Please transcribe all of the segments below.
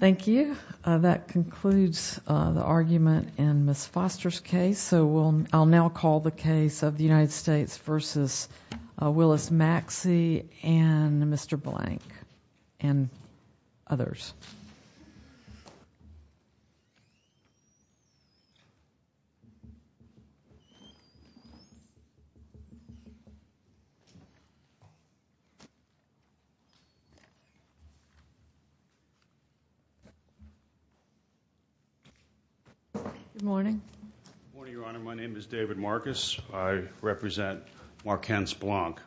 Thank you. That concludes the argument in Ms. Foster's case. So I'll now call the case of the United States v. Willis Maxi and Mr. Blank and others. David Marcus Good morning, Your Honor. My name is David Marcus. I represent Marquandt-Blank.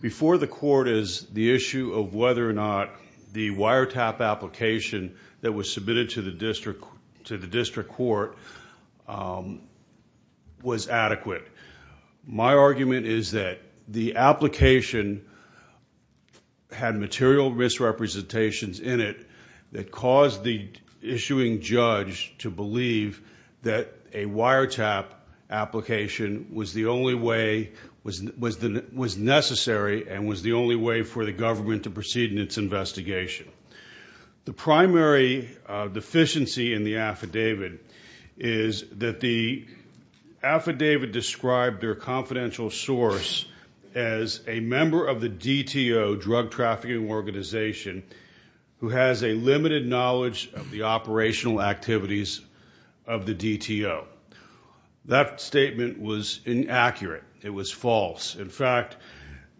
Before the court is the issue of whether or not the wiretap application that was submitted to the district court was adequate. My argument is that the application had material misrepresentations in it that caused the issuing judge to believe that a wiretap application was the only way – was necessary and was the only way for the government to proceed in its investigation. The primary deficiency in the affidavit is that the affidavit described their confidential source as a member of the DTO, Drug Trafficking Organization, who has a limited knowledge of the operational activities of the DTO. That statement was inaccurate. It was false. In fact,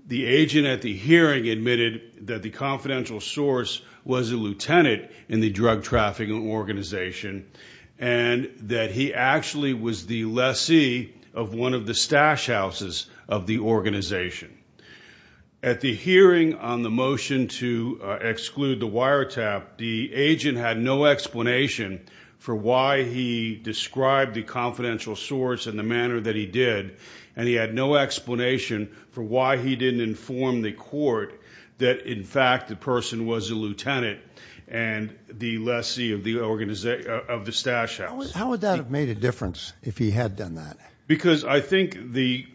the agent at the hearing admitted that the confidential source was a lieutenant in the Drug Trafficking Organization and that he actually was the lessee of one of the stash houses of the organization. At the hearing on the motion to exclude the wiretap, the agent had no explanation for why he described the confidential source in the manner that he did, and he had no explanation for why he didn't inform the court that, in fact, the person was a lieutenant and the lessee of the stash house. How would that have made a difference if he had done that? Because I think the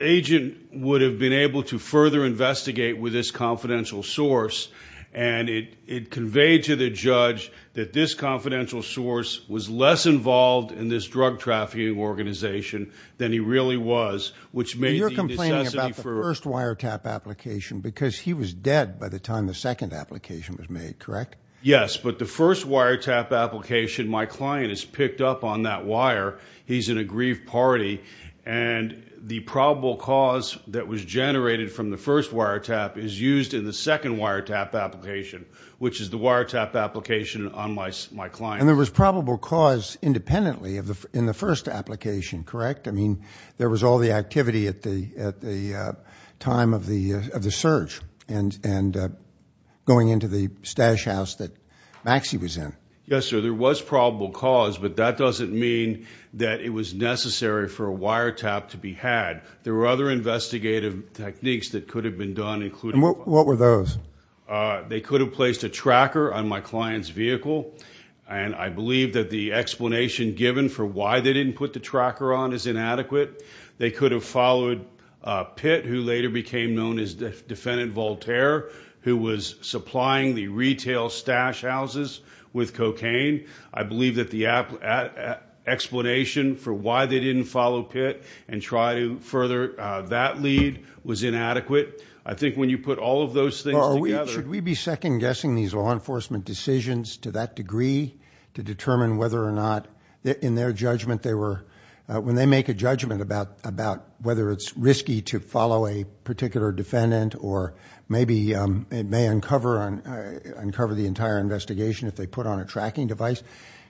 agent would have been able to further investigate with this confidential source, and it conveyed to the judge that this confidential source was less involved in this drug trafficking organization than he really was, which made the necessity for – But you're complaining about the first wiretap application because he was dead by the time the second application was made, correct? Yes, but the first wiretap application, my client is picked up on that wire. He's in a grief party, and the probable cause that was generated from the first wiretap is used in the second wiretap application, which is the wiretap application on my client. And there was probable cause independently in the first application, correct? I mean, there was all the activity at the time of the surge and going into the stash house that Maxie was in. Yes, sir. There was probable cause, but that doesn't mean that it was necessary for a wiretap to be had. There were other investigative techniques that could have been done, including – What were those? They could have placed a tracker on my client's vehicle, and I believe that the explanation given for why they didn't put the tracker on is inadequate. They could have followed Pitt, who later became known as Defendant Voltaire, who was supplying the retail stash houses with cocaine. I believe that the explanation for why they didn't follow Pitt and try to further that lead was inadequate. I think when you put all of those things together – Should we be second-guessing these law enforcement decisions to that degree to determine whether or not, in their judgment, they were – when they make a judgment about whether it's risky to follow a particular defendant or maybe it may uncover the entire investigation if they put on a tracking device,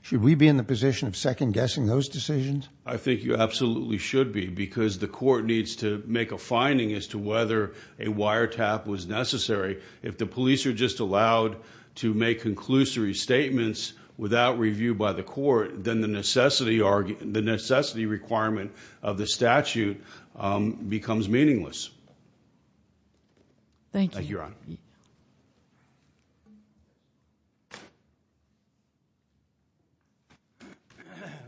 should we be in the position of second-guessing those decisions? I think you absolutely should be, because the court needs to make a finding as to whether a wiretap was necessary. If the police are just allowed to make conclusory statements without review by the court, then the necessity requirement of the statute becomes meaningless. Thank you, Your Honor.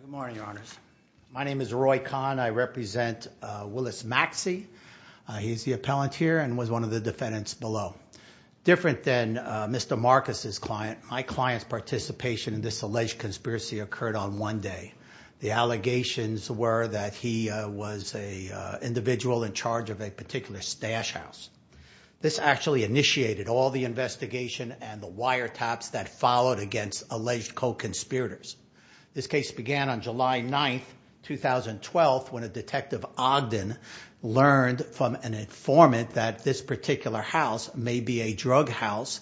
Good morning, Your Honors. My name is Roy Kahn. I represent Willis Maxey. He's the appellant here and was one of the defendants below. Different than Mr. Marcus's client, my client's participation in this alleged conspiracy occurred on one day. The allegations were that he was an individual in charge of a particular stash house. This actually initiated all the investigation and the wiretaps that followed against alleged co-conspirators. This case began on July 9, 2012, when a Detective Ogden learned from an informant that this particular house may be a drug house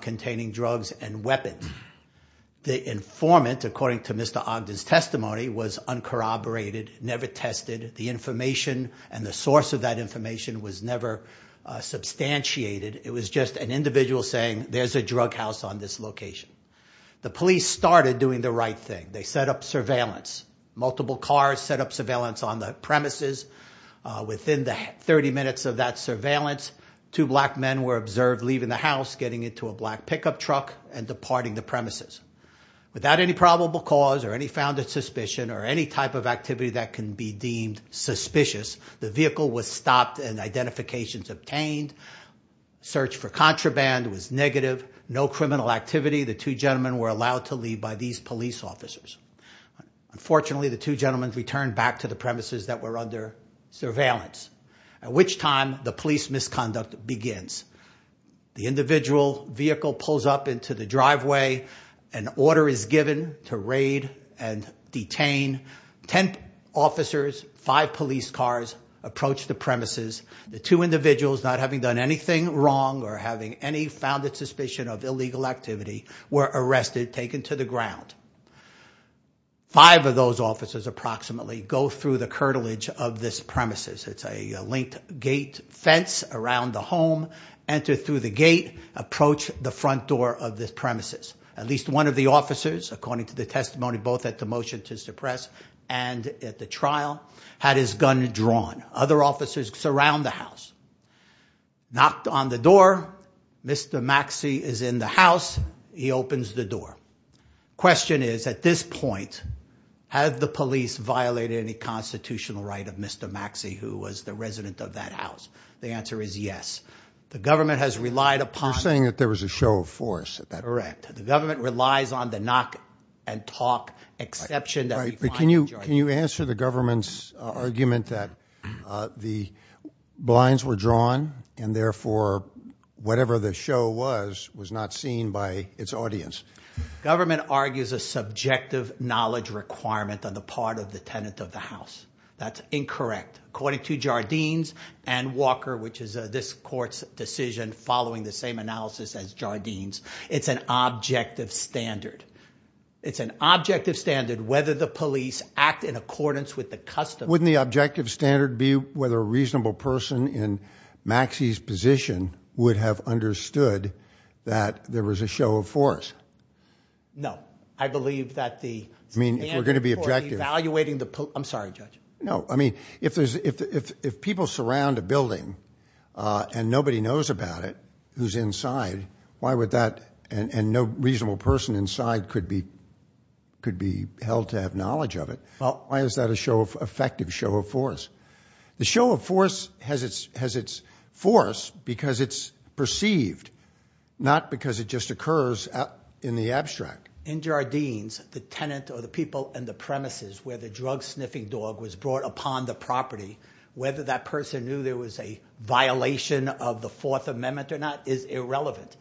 containing drugs and weapons. The informant, according to Mr. Ogden's testimony, was uncorroborated, never tested. The information and the source of that information was never substantiated. It was just an individual saying, there's a drug house on this location. The police started doing the right thing. They set up surveillance. Multiple cars set up surveillance on the premises. Within 30 minutes of that surveillance, two black men were observed leaving the house, getting into a black pickup truck and departing the premises. Without any probable cause or any founded suspicion or any type of activity that can be deemed suspicious, the vehicle was stopped and identifications obtained. Search for contraband was negative. No criminal activity. The two gentlemen were allowed to leave by these police officers. Unfortunately, the two gentlemen returned back to the premises that were under surveillance, at which time the police misconduct begins. The individual vehicle pulls up into the driveway. An order is given to raid and detain. Ten officers, five police cars approach the premises. The two individuals, not having done anything wrong or having any founded suspicion of illegal activity, were arrested, taken to the ground. Five of those officers approximately go through the curtilage of this premises. It's a linked gate fence around the home. Enter through the gate. Approach the front door of this premises. At least one of the officers, according to the testimony both at the motion to suppress and at the trial, had his gun drawn. Other officers surround the house. Knocked on the door. Mr. Maxey is in the house. He opens the door. Question is, at this point, have the police violated any constitutional right of Mr. Maxey, who was the resident of that house? The answer is yes. The government has relied upon. You're saying that there was a show of force at that point. Correct. The government relies on the knock and talk exception. Can you answer the government's argument that the blinds were drawn and, therefore, whatever the show was, was not seen by its audience? Government argues a subjective knowledge requirement on the part of the tenant of the house. That's incorrect. According to Jardines and Walker, which is this court's decision following the same analysis as Jardines, it's an objective standard. It's an objective standard whether the police act in accordance with the custom. Wouldn't the objective standard be whether a reasonable person in Maxey's position would have understood that there was a show of force? No. I believe that the standard for evaluating the police. I'm sorry, Judge. No. I mean, if people surround a building and nobody knows about it who's inside, why would that, and no reasonable person inside could be held to have knowledge of it, why is that an effective show of force? The show of force has its force because it's perceived, not because it just occurs in the abstract. In Jardines, the tenant or the people in the premises where the drug-sniffing dog was brought upon the property, whether that person knew there was a violation of the Fourth Amendment or not is irrelevant.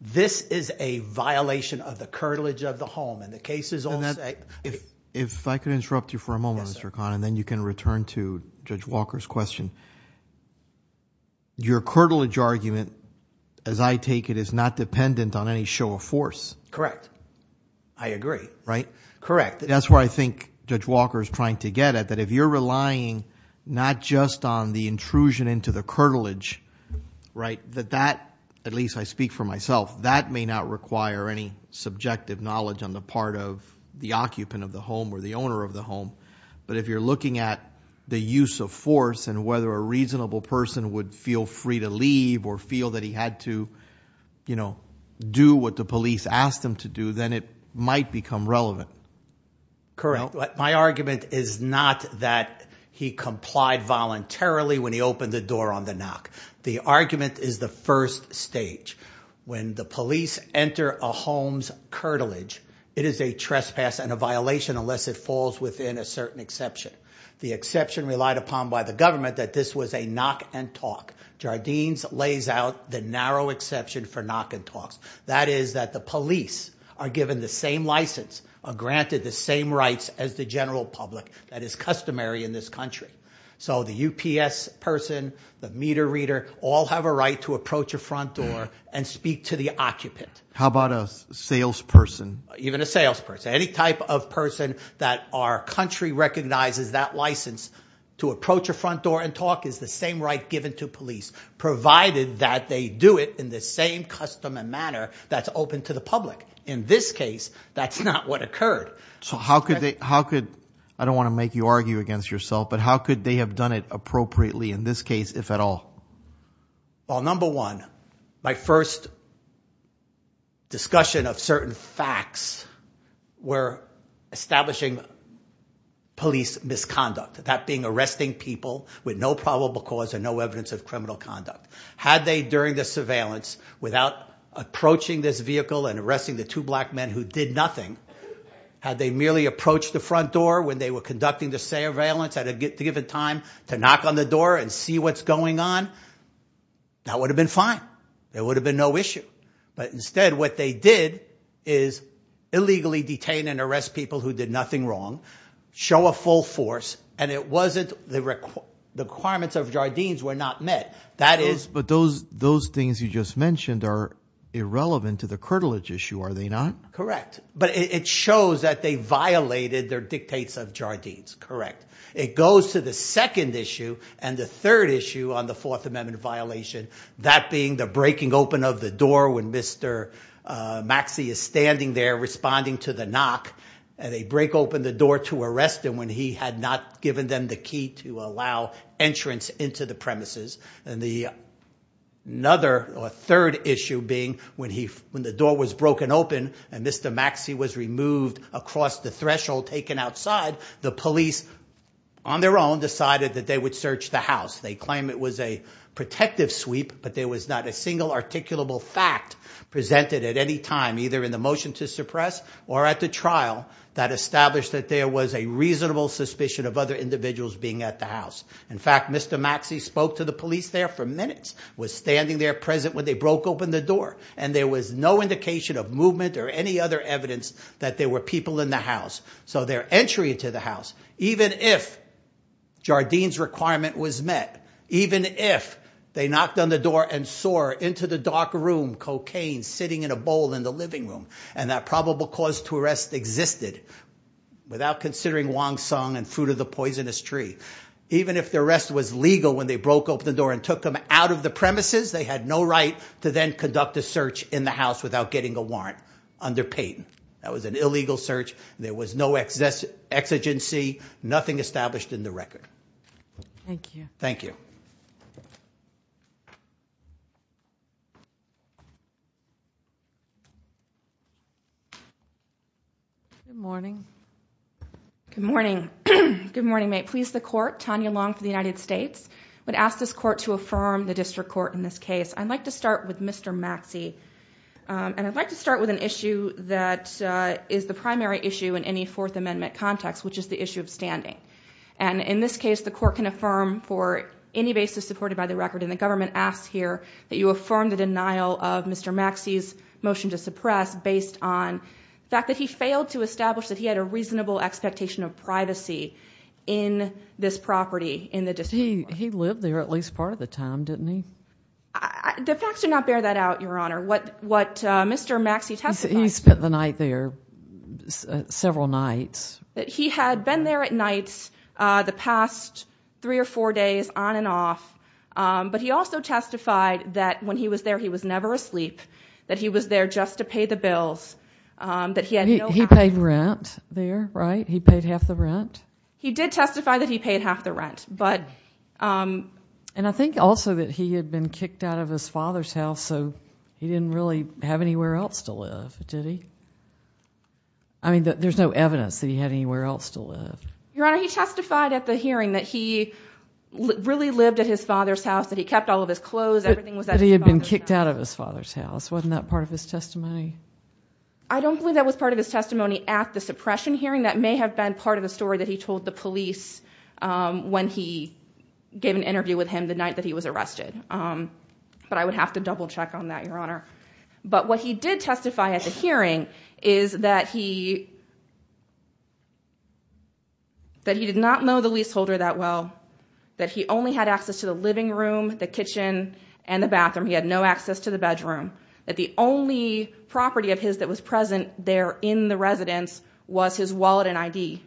This is a violation of the curtilage of the home, and the case is all set. If I could interrupt you for a moment, Mr. Kahn, and then you can return to Judge Walker's question. Your curtilage argument, as I take it, is not dependent on any show of force. Correct. I agree. Right? Correct. That's where I think Judge Walker is trying to get at, that if you're relying not just on the intrusion into the curtilage, that that, at least I speak for myself, that may not require any subjective knowledge on the part of the occupant of the home or the owner of the home. But if you're looking at the use of force and whether a reasonable person would feel free to leave or feel that he had to do what the police asked him to do, then it might become relevant. Correct. My argument is not that he complied voluntarily when he opened the door on the knock. The argument is the first stage. When the police enter a home's curtilage, it is a trespass and a violation unless it falls within a certain exception. The exception relied upon by the government that this was a knock and talk. Jardines lays out the narrow exception for knock and talks. That is that the police are given the same license or granted the same rights as the general public. That is customary in this country. So the UPS person, the meter reader, all have a right to approach a front door and speak to the occupant. How about a salesperson? Even a salesperson. Any type of person that our country recognizes that license to approach a front door and talk is the same right given to police, provided that they do it in the same custom and manner that's open to the public. In this case, that's not what occurred. I don't want to make you argue against yourself, but how could they have done it appropriately in this case, if at all? Well, number one, my first discussion of certain facts were establishing police misconduct. That being arresting people with no probable cause and no evidence of criminal conduct. Had they, during the surveillance, without approaching this vehicle and arresting the two black men who did nothing, had they merely approached the front door when they were conducting the surveillance at a given time to knock on the door and see what's going on, that would have been fine. There would have been no issue. But instead, what they did is illegally detain and arrest people who did nothing wrong, show a full force, and it wasn't the requirements of Jardines were not met. But those things you just mentioned are irrelevant to the curtilage issue, are they not? Correct. But it shows that they violated their dictates of Jardines. Correct. It goes to the second issue and the third issue on the Fourth Amendment violation, that being the breaking open of the door when Mr. Maxey is standing there responding to the knock. And they break open the door to arrest him when he had not given them the key to allow entrance into the premises. And the third issue being when the door was broken open and Mr. Maxey was removed across the threshold taken outside, the police on their own decided that they would search the house. They claim it was a protective sweep, but there was not a single articulable fact presented at any time, either in the motion to suppress or at the trial, that established that there was a reasonable suspicion of other individuals being at the house. In fact, Mr. Maxey spoke to the police there for minutes, was standing there present when they broke open the door, and there was no indication of movement or any other evidence that there were people in the house. So their entry into the house, even if Jardines' requirement was met, even if they knocked on the door and saw her into the dark room, cocaine sitting in a bowl in the living room, and that probable cause to arrest existed without considering Wong Sung and Fruit of the Poisonous Tree. Even if the arrest was legal when they broke open the door and took them out of the premises, they had no right to then conduct a search in the house without getting a warrant under Peyton. That was an illegal search. There was no exigency, nothing established in the record. Thank you. Thank you. Good morning. Good morning. Good morning, mate. Please, the court, Tanya Long for the United States, would ask this court to affirm the district court in this case. I'd like to start with Mr. Maxey, and I'd like to start with an issue that is the primary issue in any Fourth Amendment context, which is the issue of standing. And in this case, the court can affirm for any basis supported by the record, and the government asks here that you affirm the denial of Mr. Maxey's motion to suppress based on the fact that he failed to establish that he had a reasonable expectation of privacy in this property in the district court. He lived there at least part of the time, didn't he? The facts do not bear that out, Your Honor. What Mr. Maxey testified— He spent the night there, several nights. That he had been there at night the past three or four days on and off, but he also testified that when he was there, he was never asleep, that he was there just to pay the bills, that he had no— He paid rent there, right? He paid half the rent? He did testify that he paid half the rent, but— And I think also that he had been kicked out of his father's house, so he didn't really have anywhere else to live, did he? I mean, there's no evidence that he had anywhere else to live. Your Honor, he testified at the hearing that he really lived at his father's house, that he kept all of his clothes, everything was at his father's house. But he had been kicked out of his father's house. Wasn't that part of his testimony? I don't believe that was part of his testimony at the suppression hearing. That may have been part of the story that he told the police when he gave an interview with him the night that he was arrested, but I would have to double-check on that, Your Honor. But what he did testify at the hearing is that he did not know the leaseholder that well, that he only had access to the living room, the kitchen, and the bathroom. He had no access to the bedroom, that the only property of his that was present there in the residence was his wallet and ID,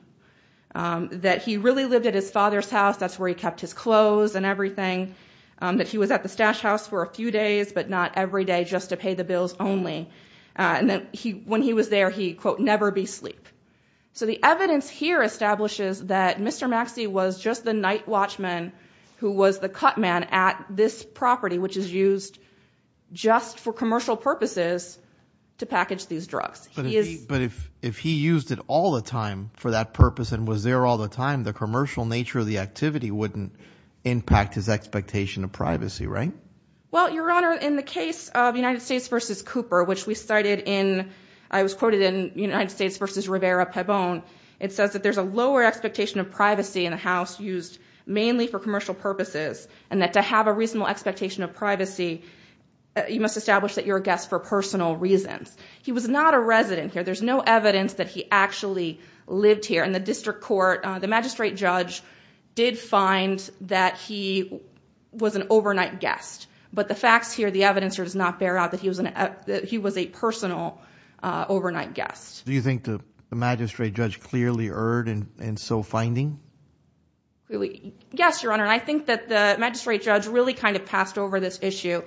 that he really lived at his father's house. That's where he kept his clothes and everything, that he was at the stash house for a few days, but not every day, just to pay the bills only. And then when he was there, he, quote, never be sleep. So the evidence here establishes that Mr. Maxey was just the night watchman who was the cut man at this property, which is used just for commercial purposes to package these drugs. But if he used it all the time for that purpose and was there all the time, the commercial nature of the activity wouldn't impact his expectation of privacy, right? Well, Your Honor, in the case of United States v. Cooper, which we cited in, I was quoted in United States v. Rivera-Pabon, it says that there's a lower expectation of privacy in a house used mainly for commercial purposes, and that to have a reasonable expectation of privacy, you must establish that you're a guest for personal reasons. He was not a resident here. There's no evidence that he actually lived here. In the district court, the magistrate judge did find that he was an overnight guest. But the facts here, the evidence here does not bear out that he was a personal overnight guest. Do you think the magistrate judge clearly erred in so finding? Yes, Your Honor. And I think that the magistrate judge really kind of passed over this issue.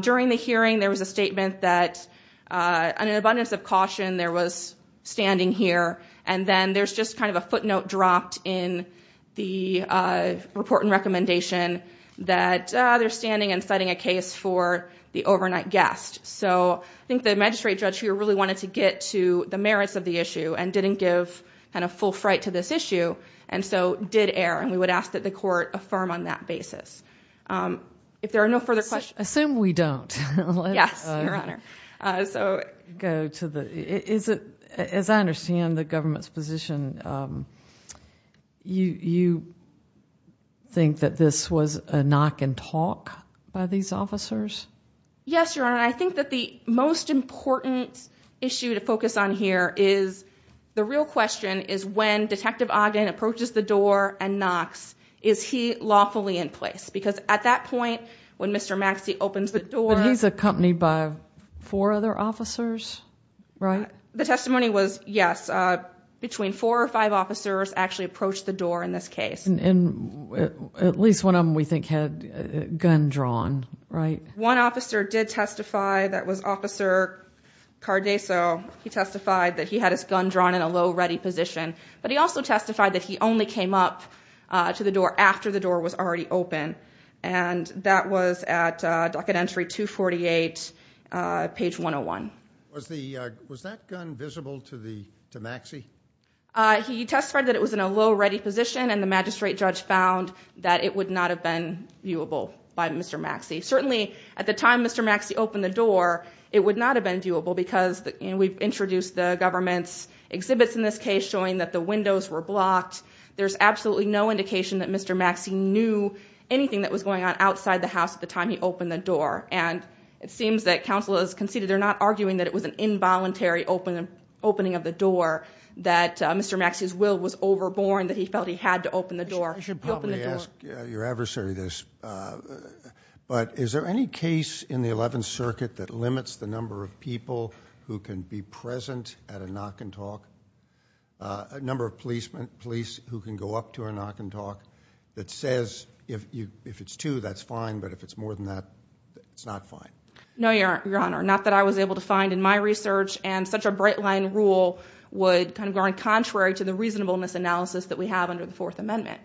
During the hearing, there was a statement that, in an abundance of caution, there was standing here. And then there's just kind of a footnote dropped in the report and recommendation that they're standing and citing a case for the overnight guest. So I think the magistrate judge here really wanted to get to the merits of the issue and didn't give kind of full fright to this issue, and so did err. And we would ask that the court affirm on that basis. If there are no further questions. Assume we don't. Yes, Your Honor. As I understand the government's position, you think that this was a knock and talk by these officers? Yes, Your Honor. And I think that the most important issue to focus on here is the real question is when Detective Ogden approaches the door and knocks, is he lawfully in place? Because at that point, when Mr. Maxey opens the door. But he's accompanied by four other officers, right? The testimony was yes. Between four or five officers actually approached the door in this case. And at least one of them we think had a gun drawn, right? One officer did testify. That was Officer Cardeso. He testified that he had his gun drawn in a low ready position. But he also testified that he only came up to the door after the door was already open. And that was at docket entry 248, page 101. Was that gun visible to Maxey? He testified that it was in a low ready position, and the magistrate judge found that it would not have been viewable by Mr. Maxey. Certainly, at the time Mr. Maxey opened the door, it would not have been viewable because we've introduced the government's exhibits in this case showing that the windows were blocked. There's absolutely no indication that Mr. Maxey knew anything that was going on outside the house at the time he opened the door. And it seems that counsel has conceded they're not arguing that it was an involuntary opening of the door, that Mr. Maxey's will was overborne, that he felt he had to open the door. I should probably ask your adversary this, but is there any case in the 11th Circuit that limits the number of people who can be present at a knock and talk? A number of police who can go up to a knock and talk that says if it's two, that's fine, but if it's more than that, it's not fine. No, Your Honor, not that I was able to find in my research. And such a bright line rule would kind of go in contrary to the reasonableness analysis that we have under the Fourth Amendment.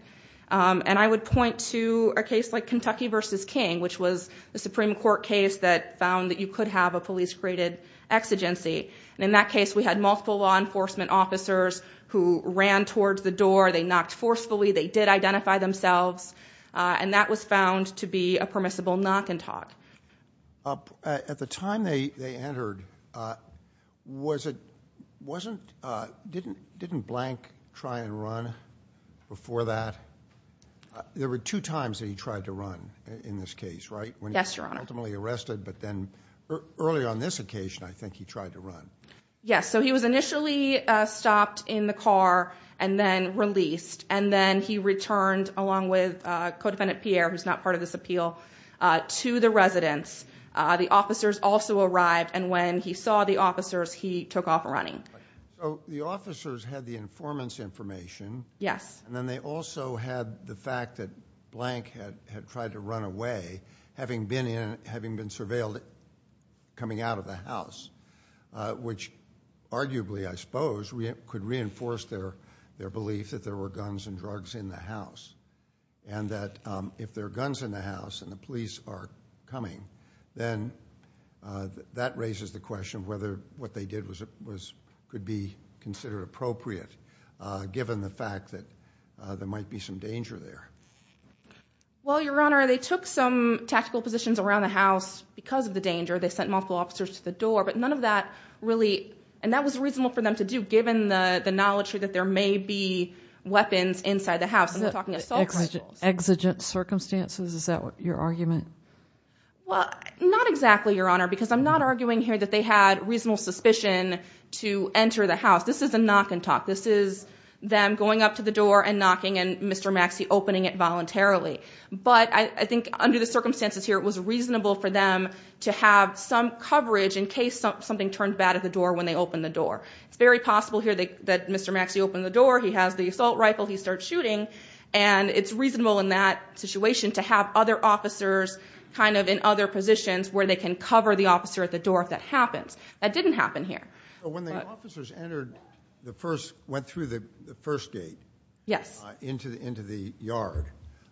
And I would point to a case like Kentucky v. King, which was the Supreme Court case that found that you could have a police graded exigency. And in that case, we had multiple law enforcement officers who ran towards the door. They knocked forcefully. They did identify themselves. And that was found to be a permissible knock and talk. At the time they entered, didn't Blank try and run before that? There were two times that he tried to run in this case, right? Yes, Your Honor. When he was ultimately arrested, but then earlier on this occasion, I think he tried to run. Yes, so he was initially stopped in the car and then released. And then he returned, along with Codefendant Pierre, who's not part of this appeal, to the residence. The officers also arrived. And when he saw the officers, he took off running. So the officers had the informant's information. Yes. And then they also had the fact that Blank had tried to run away, having been surveilled coming out of the house, which arguably, I suppose, could reinforce their belief that there were guns and drugs in the house. And that if there are guns in the house and the police are coming, then that raises the question of whether what they did could be considered appropriate, given the fact that there might be some danger there. Well, Your Honor, they took some tactical positions around the house because of the danger. They sent multiple officers to the door, but none of that really – and that was reasonable for them to do, given the knowledge that there may be weapons inside the house. Exigent circumstances? Is that your argument? Well, not exactly, Your Honor, because I'm not arguing here that they had reasonable suspicion to enter the house. This is a knock and talk. This is them going up to the door and knocking and Mr. Maxey opening it voluntarily. But I think under the circumstances here, it was reasonable for them to have some coverage in case something turned bad at the door when they opened the door. It's very possible here that Mr. Maxey opened the door. He has the assault rifle. He starts shooting. And it's reasonable in that situation to have other officers kind of in other positions where they can cover the officer at the door if that happens. That didn't happen here. When the officers went through the first gate into the yard,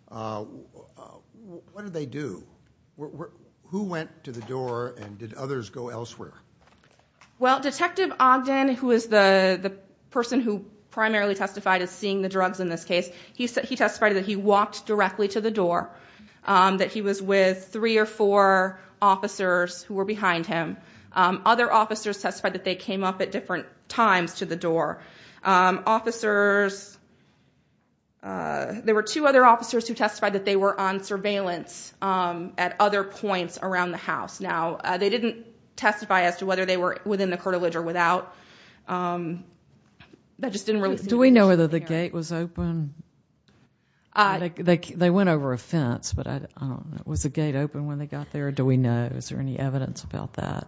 what did they do? Who went to the door and did others go elsewhere? Well, Detective Ogden, who is the person who primarily testified as seeing the drugs in this case, he testified that he walked directly to the door, that he was with three or four officers who were behind him. Other officers testified that they came up at different times to the door. There were two other officers who testified that they were on surveillance at other points around the house. Now, they didn't testify as to whether they were within the curtilage or without. That just didn't really seem to be an issue here. Do we know whether the gate was open? They went over a fence, but I don't know. Was the gate open when they got there? Do we know? Is there any evidence about that?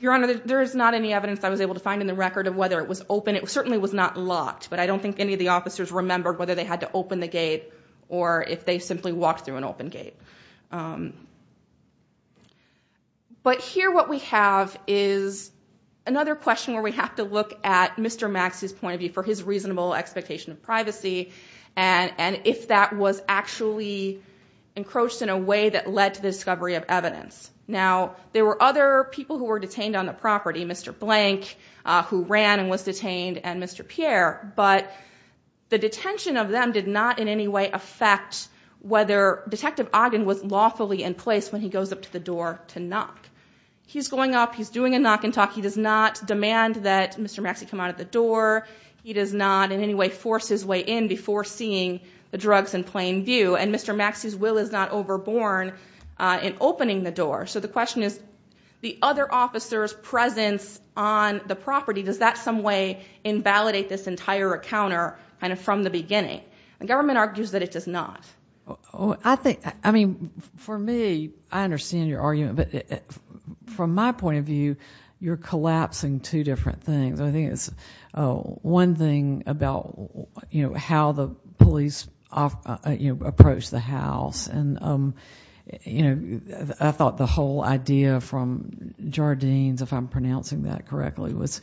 Your Honor, there is not any evidence I was able to find in the record of whether it was open. It certainly was not locked. But I don't think any of the officers remembered whether they had to open the gate or if they simply walked through an open gate. But here what we have is another question where we have to look at Mr. Max's point of view for his reasonable expectation of privacy and if that was actually encroached in a way that led to the discovery of evidence. Now, there were other people who were detained on the property, Mr. Blank, who ran and was detained, and Mr. Pierre. But the detention of them did not in any way affect whether Detective Ogden was lawfully in place when he goes up to the door to knock. He's going up. He's doing a knock and talk. He does not demand that Mr. Maxie come out of the door. He does not in any way force his way in before seeing the drugs in plain view. And Mr. Maxie's will is not overborne in opening the door. So the question is the other officer's presence on the property, does that in some way invalidate this entire encounter from the beginning? The government argues that it does not. I mean, for me, I understand your argument. But from my point of view, you're collapsing two different things. I think it's one thing about how the police approached the house. I thought the whole idea from Jardine's, if I'm pronouncing that correctly, was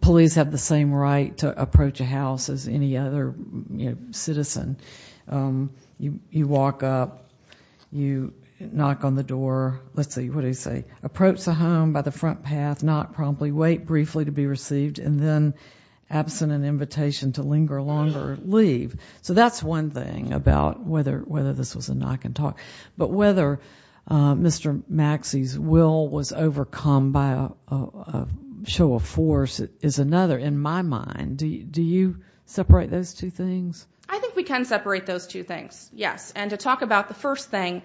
police have the same right to approach a house as any other citizen. You walk up. You knock on the door. Let's see, what did he say? Approach the home by the front path, not promptly, wait briefly to be received, and then absent an invitation to linger longer, leave. So that's one thing about whether this was a knock and talk. But whether Mr. Maxie's will was overcome by a show of force is another in my mind. Do you separate those two things? I think we can separate those two things, yes. And to talk about the first thing,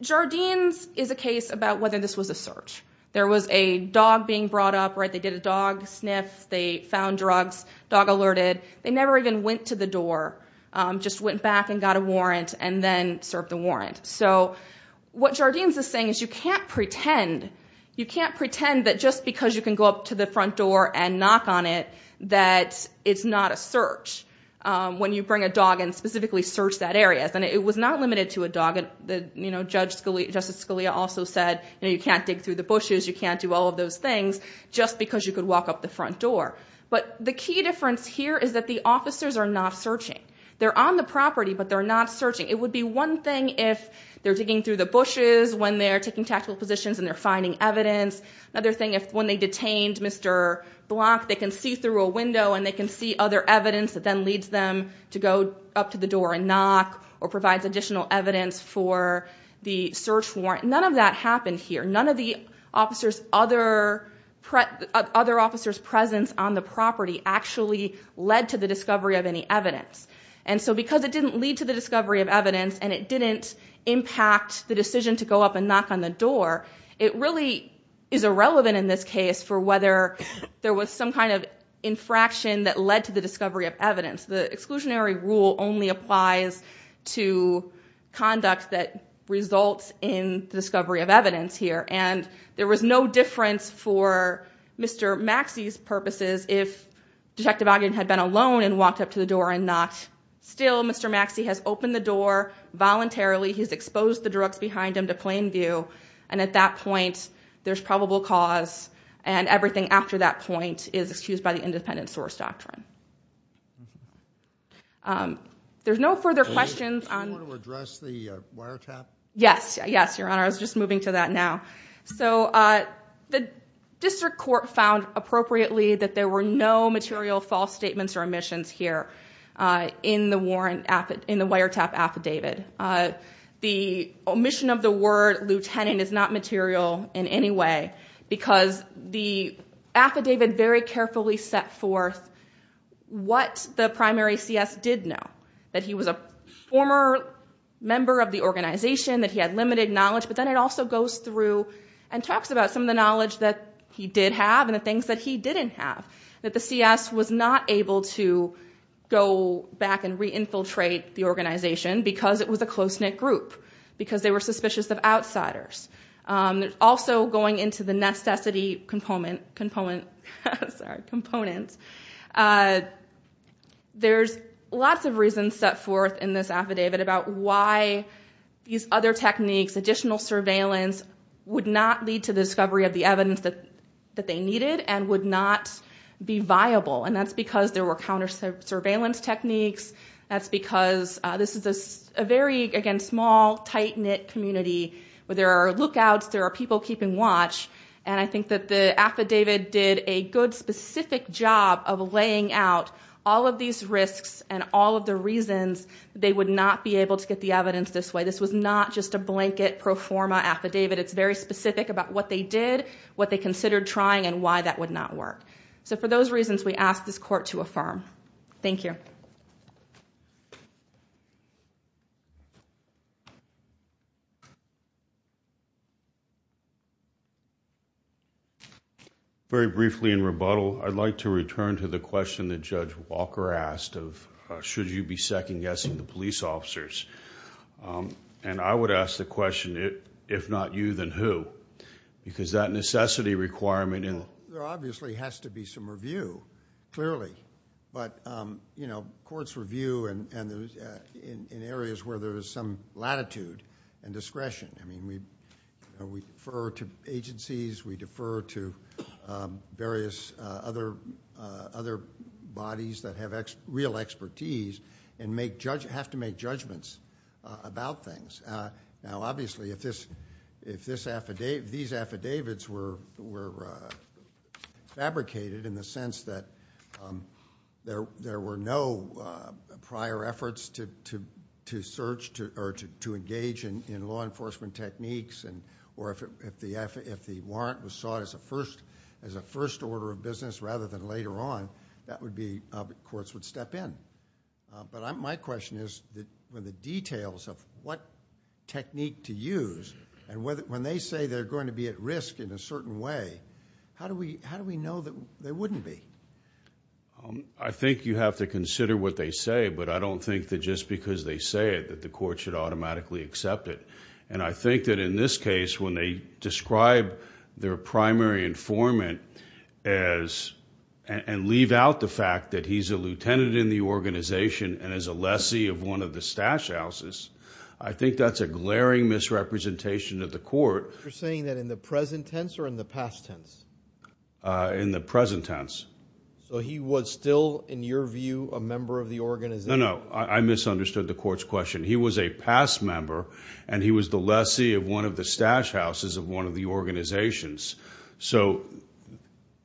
Jardine's is a case about whether this was a search. There was a dog being brought up. They did a dog sniff. They found drugs, dog alerted. They never even went to the door, just went back and got a warrant and then served the warrant. So what Jardine's is saying is you can't pretend that just because you can go up to the front door and knock on it that it's not a search. When you bring a dog in, specifically search that area. It was not limited to a dog. Justice Scalia also said you can't dig through the bushes, you can't do all of those things, just because you could walk up the front door. But the key difference here is that the officers are not searching. They're on the property, but they're not searching. It would be one thing if they're digging through the bushes when they're taking tactical positions and they're finding evidence. Another thing is when they detained Mr. Block, they can see through a window and they can see other evidence that then leads them to go up to the door and knock or provides additional evidence for the search warrant. None of that happened here. The other officer's presence on the property actually led to the discovery of any evidence. And so because it didn't lead to the discovery of evidence and it didn't impact the decision to go up and knock on the door, it really is irrelevant in this case for whether there was some kind of infraction that led to the discovery of evidence. The exclusionary rule only applies to conduct that results in the discovery of evidence here. And there was no difference for Mr. Maxey's purposes if Detective Ogden had been alone and walked up to the door and knocked. Still, Mr. Maxey has opened the door voluntarily. He's exposed the drugs behind him to plain view. And at that point, there's probable cause. And everything after that point is excused by the independent source doctrine. There's no further questions. Do you want to address the wiretap? Yes. Yes, Your Honor. I was just moving to that now. So the district court found appropriately that there were no material false statements or omissions here in the wiretap affidavit. The omission of the word lieutenant is not material in any way because the affidavit very carefully set forth what the primary CS did know. That he was a former member of the organization. That he had limited knowledge. But then it also goes through and talks about some of the knowledge that he did have and the things that he didn't have. That the CS was not able to go back and re-infiltrate the organization because it was a close-knit group. Because they were suspicious of outsiders. Also going into the necessity components. There's lots of reasons set forth in this affidavit about why these other techniques, additional surveillance, would not lead to the discovery of the evidence that they needed and would not be viable. And that's because there were counter surveillance techniques. That's because this is a very, again, small, tight-knit community. There are lookouts. There are people keeping watch. And I think that the affidavit did a good, specific job of laying out all of these risks and all of the reasons they would not be able to get the evidence this way. This was not just a blanket pro forma affidavit. It's very specific about what they did, what they considered trying, and why that would not work. So for those reasons, we ask this court to affirm. Thank you. Thank you. Very briefly in rebuttal, I'd like to return to the question that Judge Walker asked of should you be second-guessing the police officers. And I would ask the question, if not you, then who? Because that necessity requirement in the law. There obviously has to be some review, clearly. But courts review in areas where there is some latitude and discretion. I mean, we defer to agencies. We defer to various other bodies that have real expertise and have to make judgments about things. Now, obviously, if these affidavits were fabricated in the sense that there were no prior efforts to search or to engage in law enforcement techniques, or if the warrant was sought as a first order of business rather than later on, that would be courts would step in. But my question is, with the details of what technique to use, and when they say they're going to be at risk in a certain way, how do we know that they wouldn't be? I think you have to consider what they say. But I don't think that just because they say it that the court should automatically accept it. And I think that in this case, when they describe their primary informant and leave out the fact that he's a lieutenant in the organization and is a lessee of one of the stash houses, I think that's a glaring misrepresentation of the court. You're saying that in the present tense or in the past tense? In the present tense. So he was still, in your view, a member of the organization? No, no. I misunderstood the court's question. He was a past member, and he was the lessee of one of the stash houses of one of the organizations. So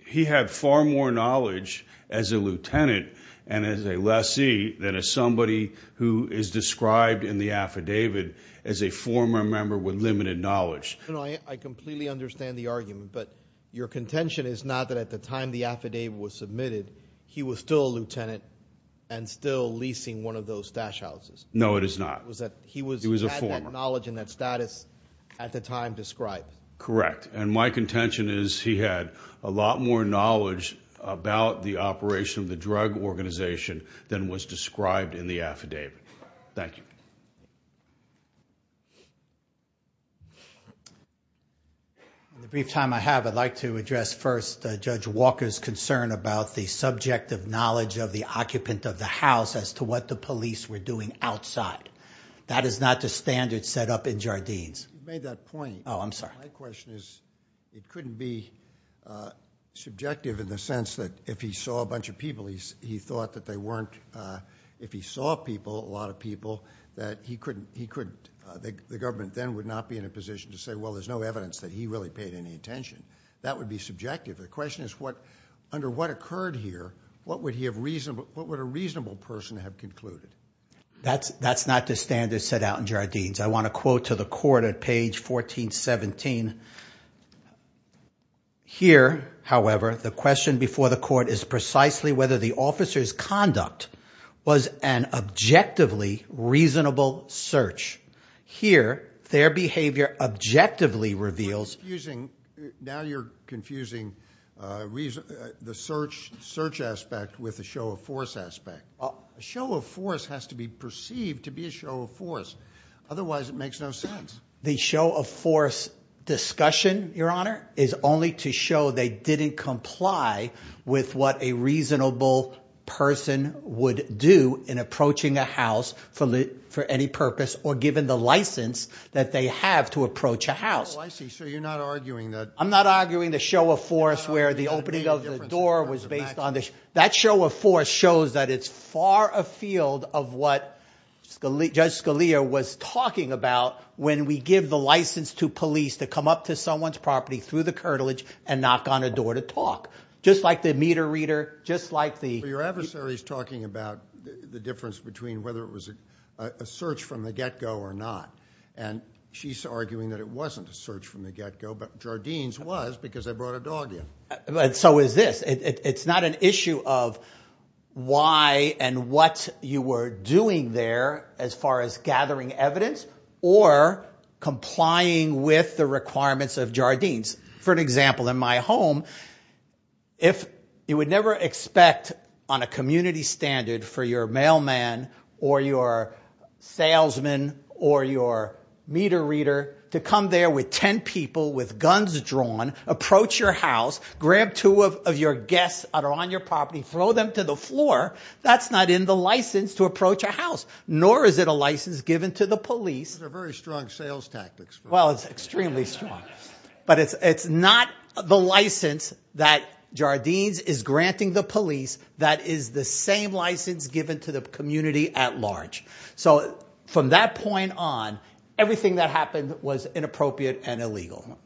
he had far more knowledge as a lieutenant and as a lessee than as somebody who is described in the affidavit as a former member with limited knowledge. I completely understand the argument, but your contention is not that at the time the affidavit was submitted, he was still a lieutenant and still leasing one of those stash houses. No, it is not. He was a former. He had that knowledge and that status at the time described. Correct. And my contention is he had a lot more knowledge about the operation of the drug organization than was described in the affidavit. Thank you. In the brief time I have, I'd like to address first Judge Walker's concern about the subjective knowledge of the occupant of the house as to what the police were doing outside. That is not the standard set up in Jardines. You made that point. Oh, I'm sorry. My question is it couldn't be subjective in the sense that if he saw a bunch of people, he thought that they weren't – if he saw people, a lot of people, that he couldn't – the government then would not be in a position to say, well, there's no evidence that he really paid any attention. That would be subjective. The question is under what occurred here, what would a reasonable person have concluded? That's not the standard set out in Jardines. I want to quote to the court at page 1417. Here, however, the question before the court is precisely whether the officer's conduct was an objectively reasonable search. Here, their behavior objectively reveals – You're confusing – now you're confusing the search aspect with the show of force aspect. A show of force has to be perceived to be a show of force. Otherwise, it makes no sense. The show of force discussion, Your Honor, is only to show they didn't comply with what a reasonable person would do in approaching a house for any purpose or given the license that they have to approach a house. Oh, I see. So you're not arguing that – I'm not arguing the show of force where the opening of the door was based on – that show of force shows that it's far afield of what Judge Scalia was talking about when we give the license to police to come up to someone's property through the curtilage and knock on a door to talk. Just like the meter reader, just like the – Your adversary's talking about the difference between whether it was a search from the get-go or not. She's arguing that it wasn't a search from the get-go, but Jardine's was because they brought a dog in. So is this. It's not an issue of why and what you were doing there as far as gathering evidence or complying with the requirements of Jardine's. For example, in my home, if – to come there with ten people with guns drawn, approach your house, grab two of your guests that are on your property, throw them to the floor, that's not in the license to approach a house, nor is it a license given to the police. Those are very strong sales tactics. Well, it's extremely strong. But it's not the license that Jardine's is granting the police that is the same license given to the community at large. So from that point on, everything that happened was inappropriate and illegal.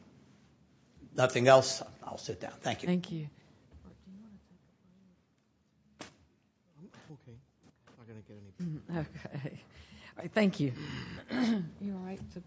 Nothing else. I'll sit down. Thank you. Thank you. Thank you.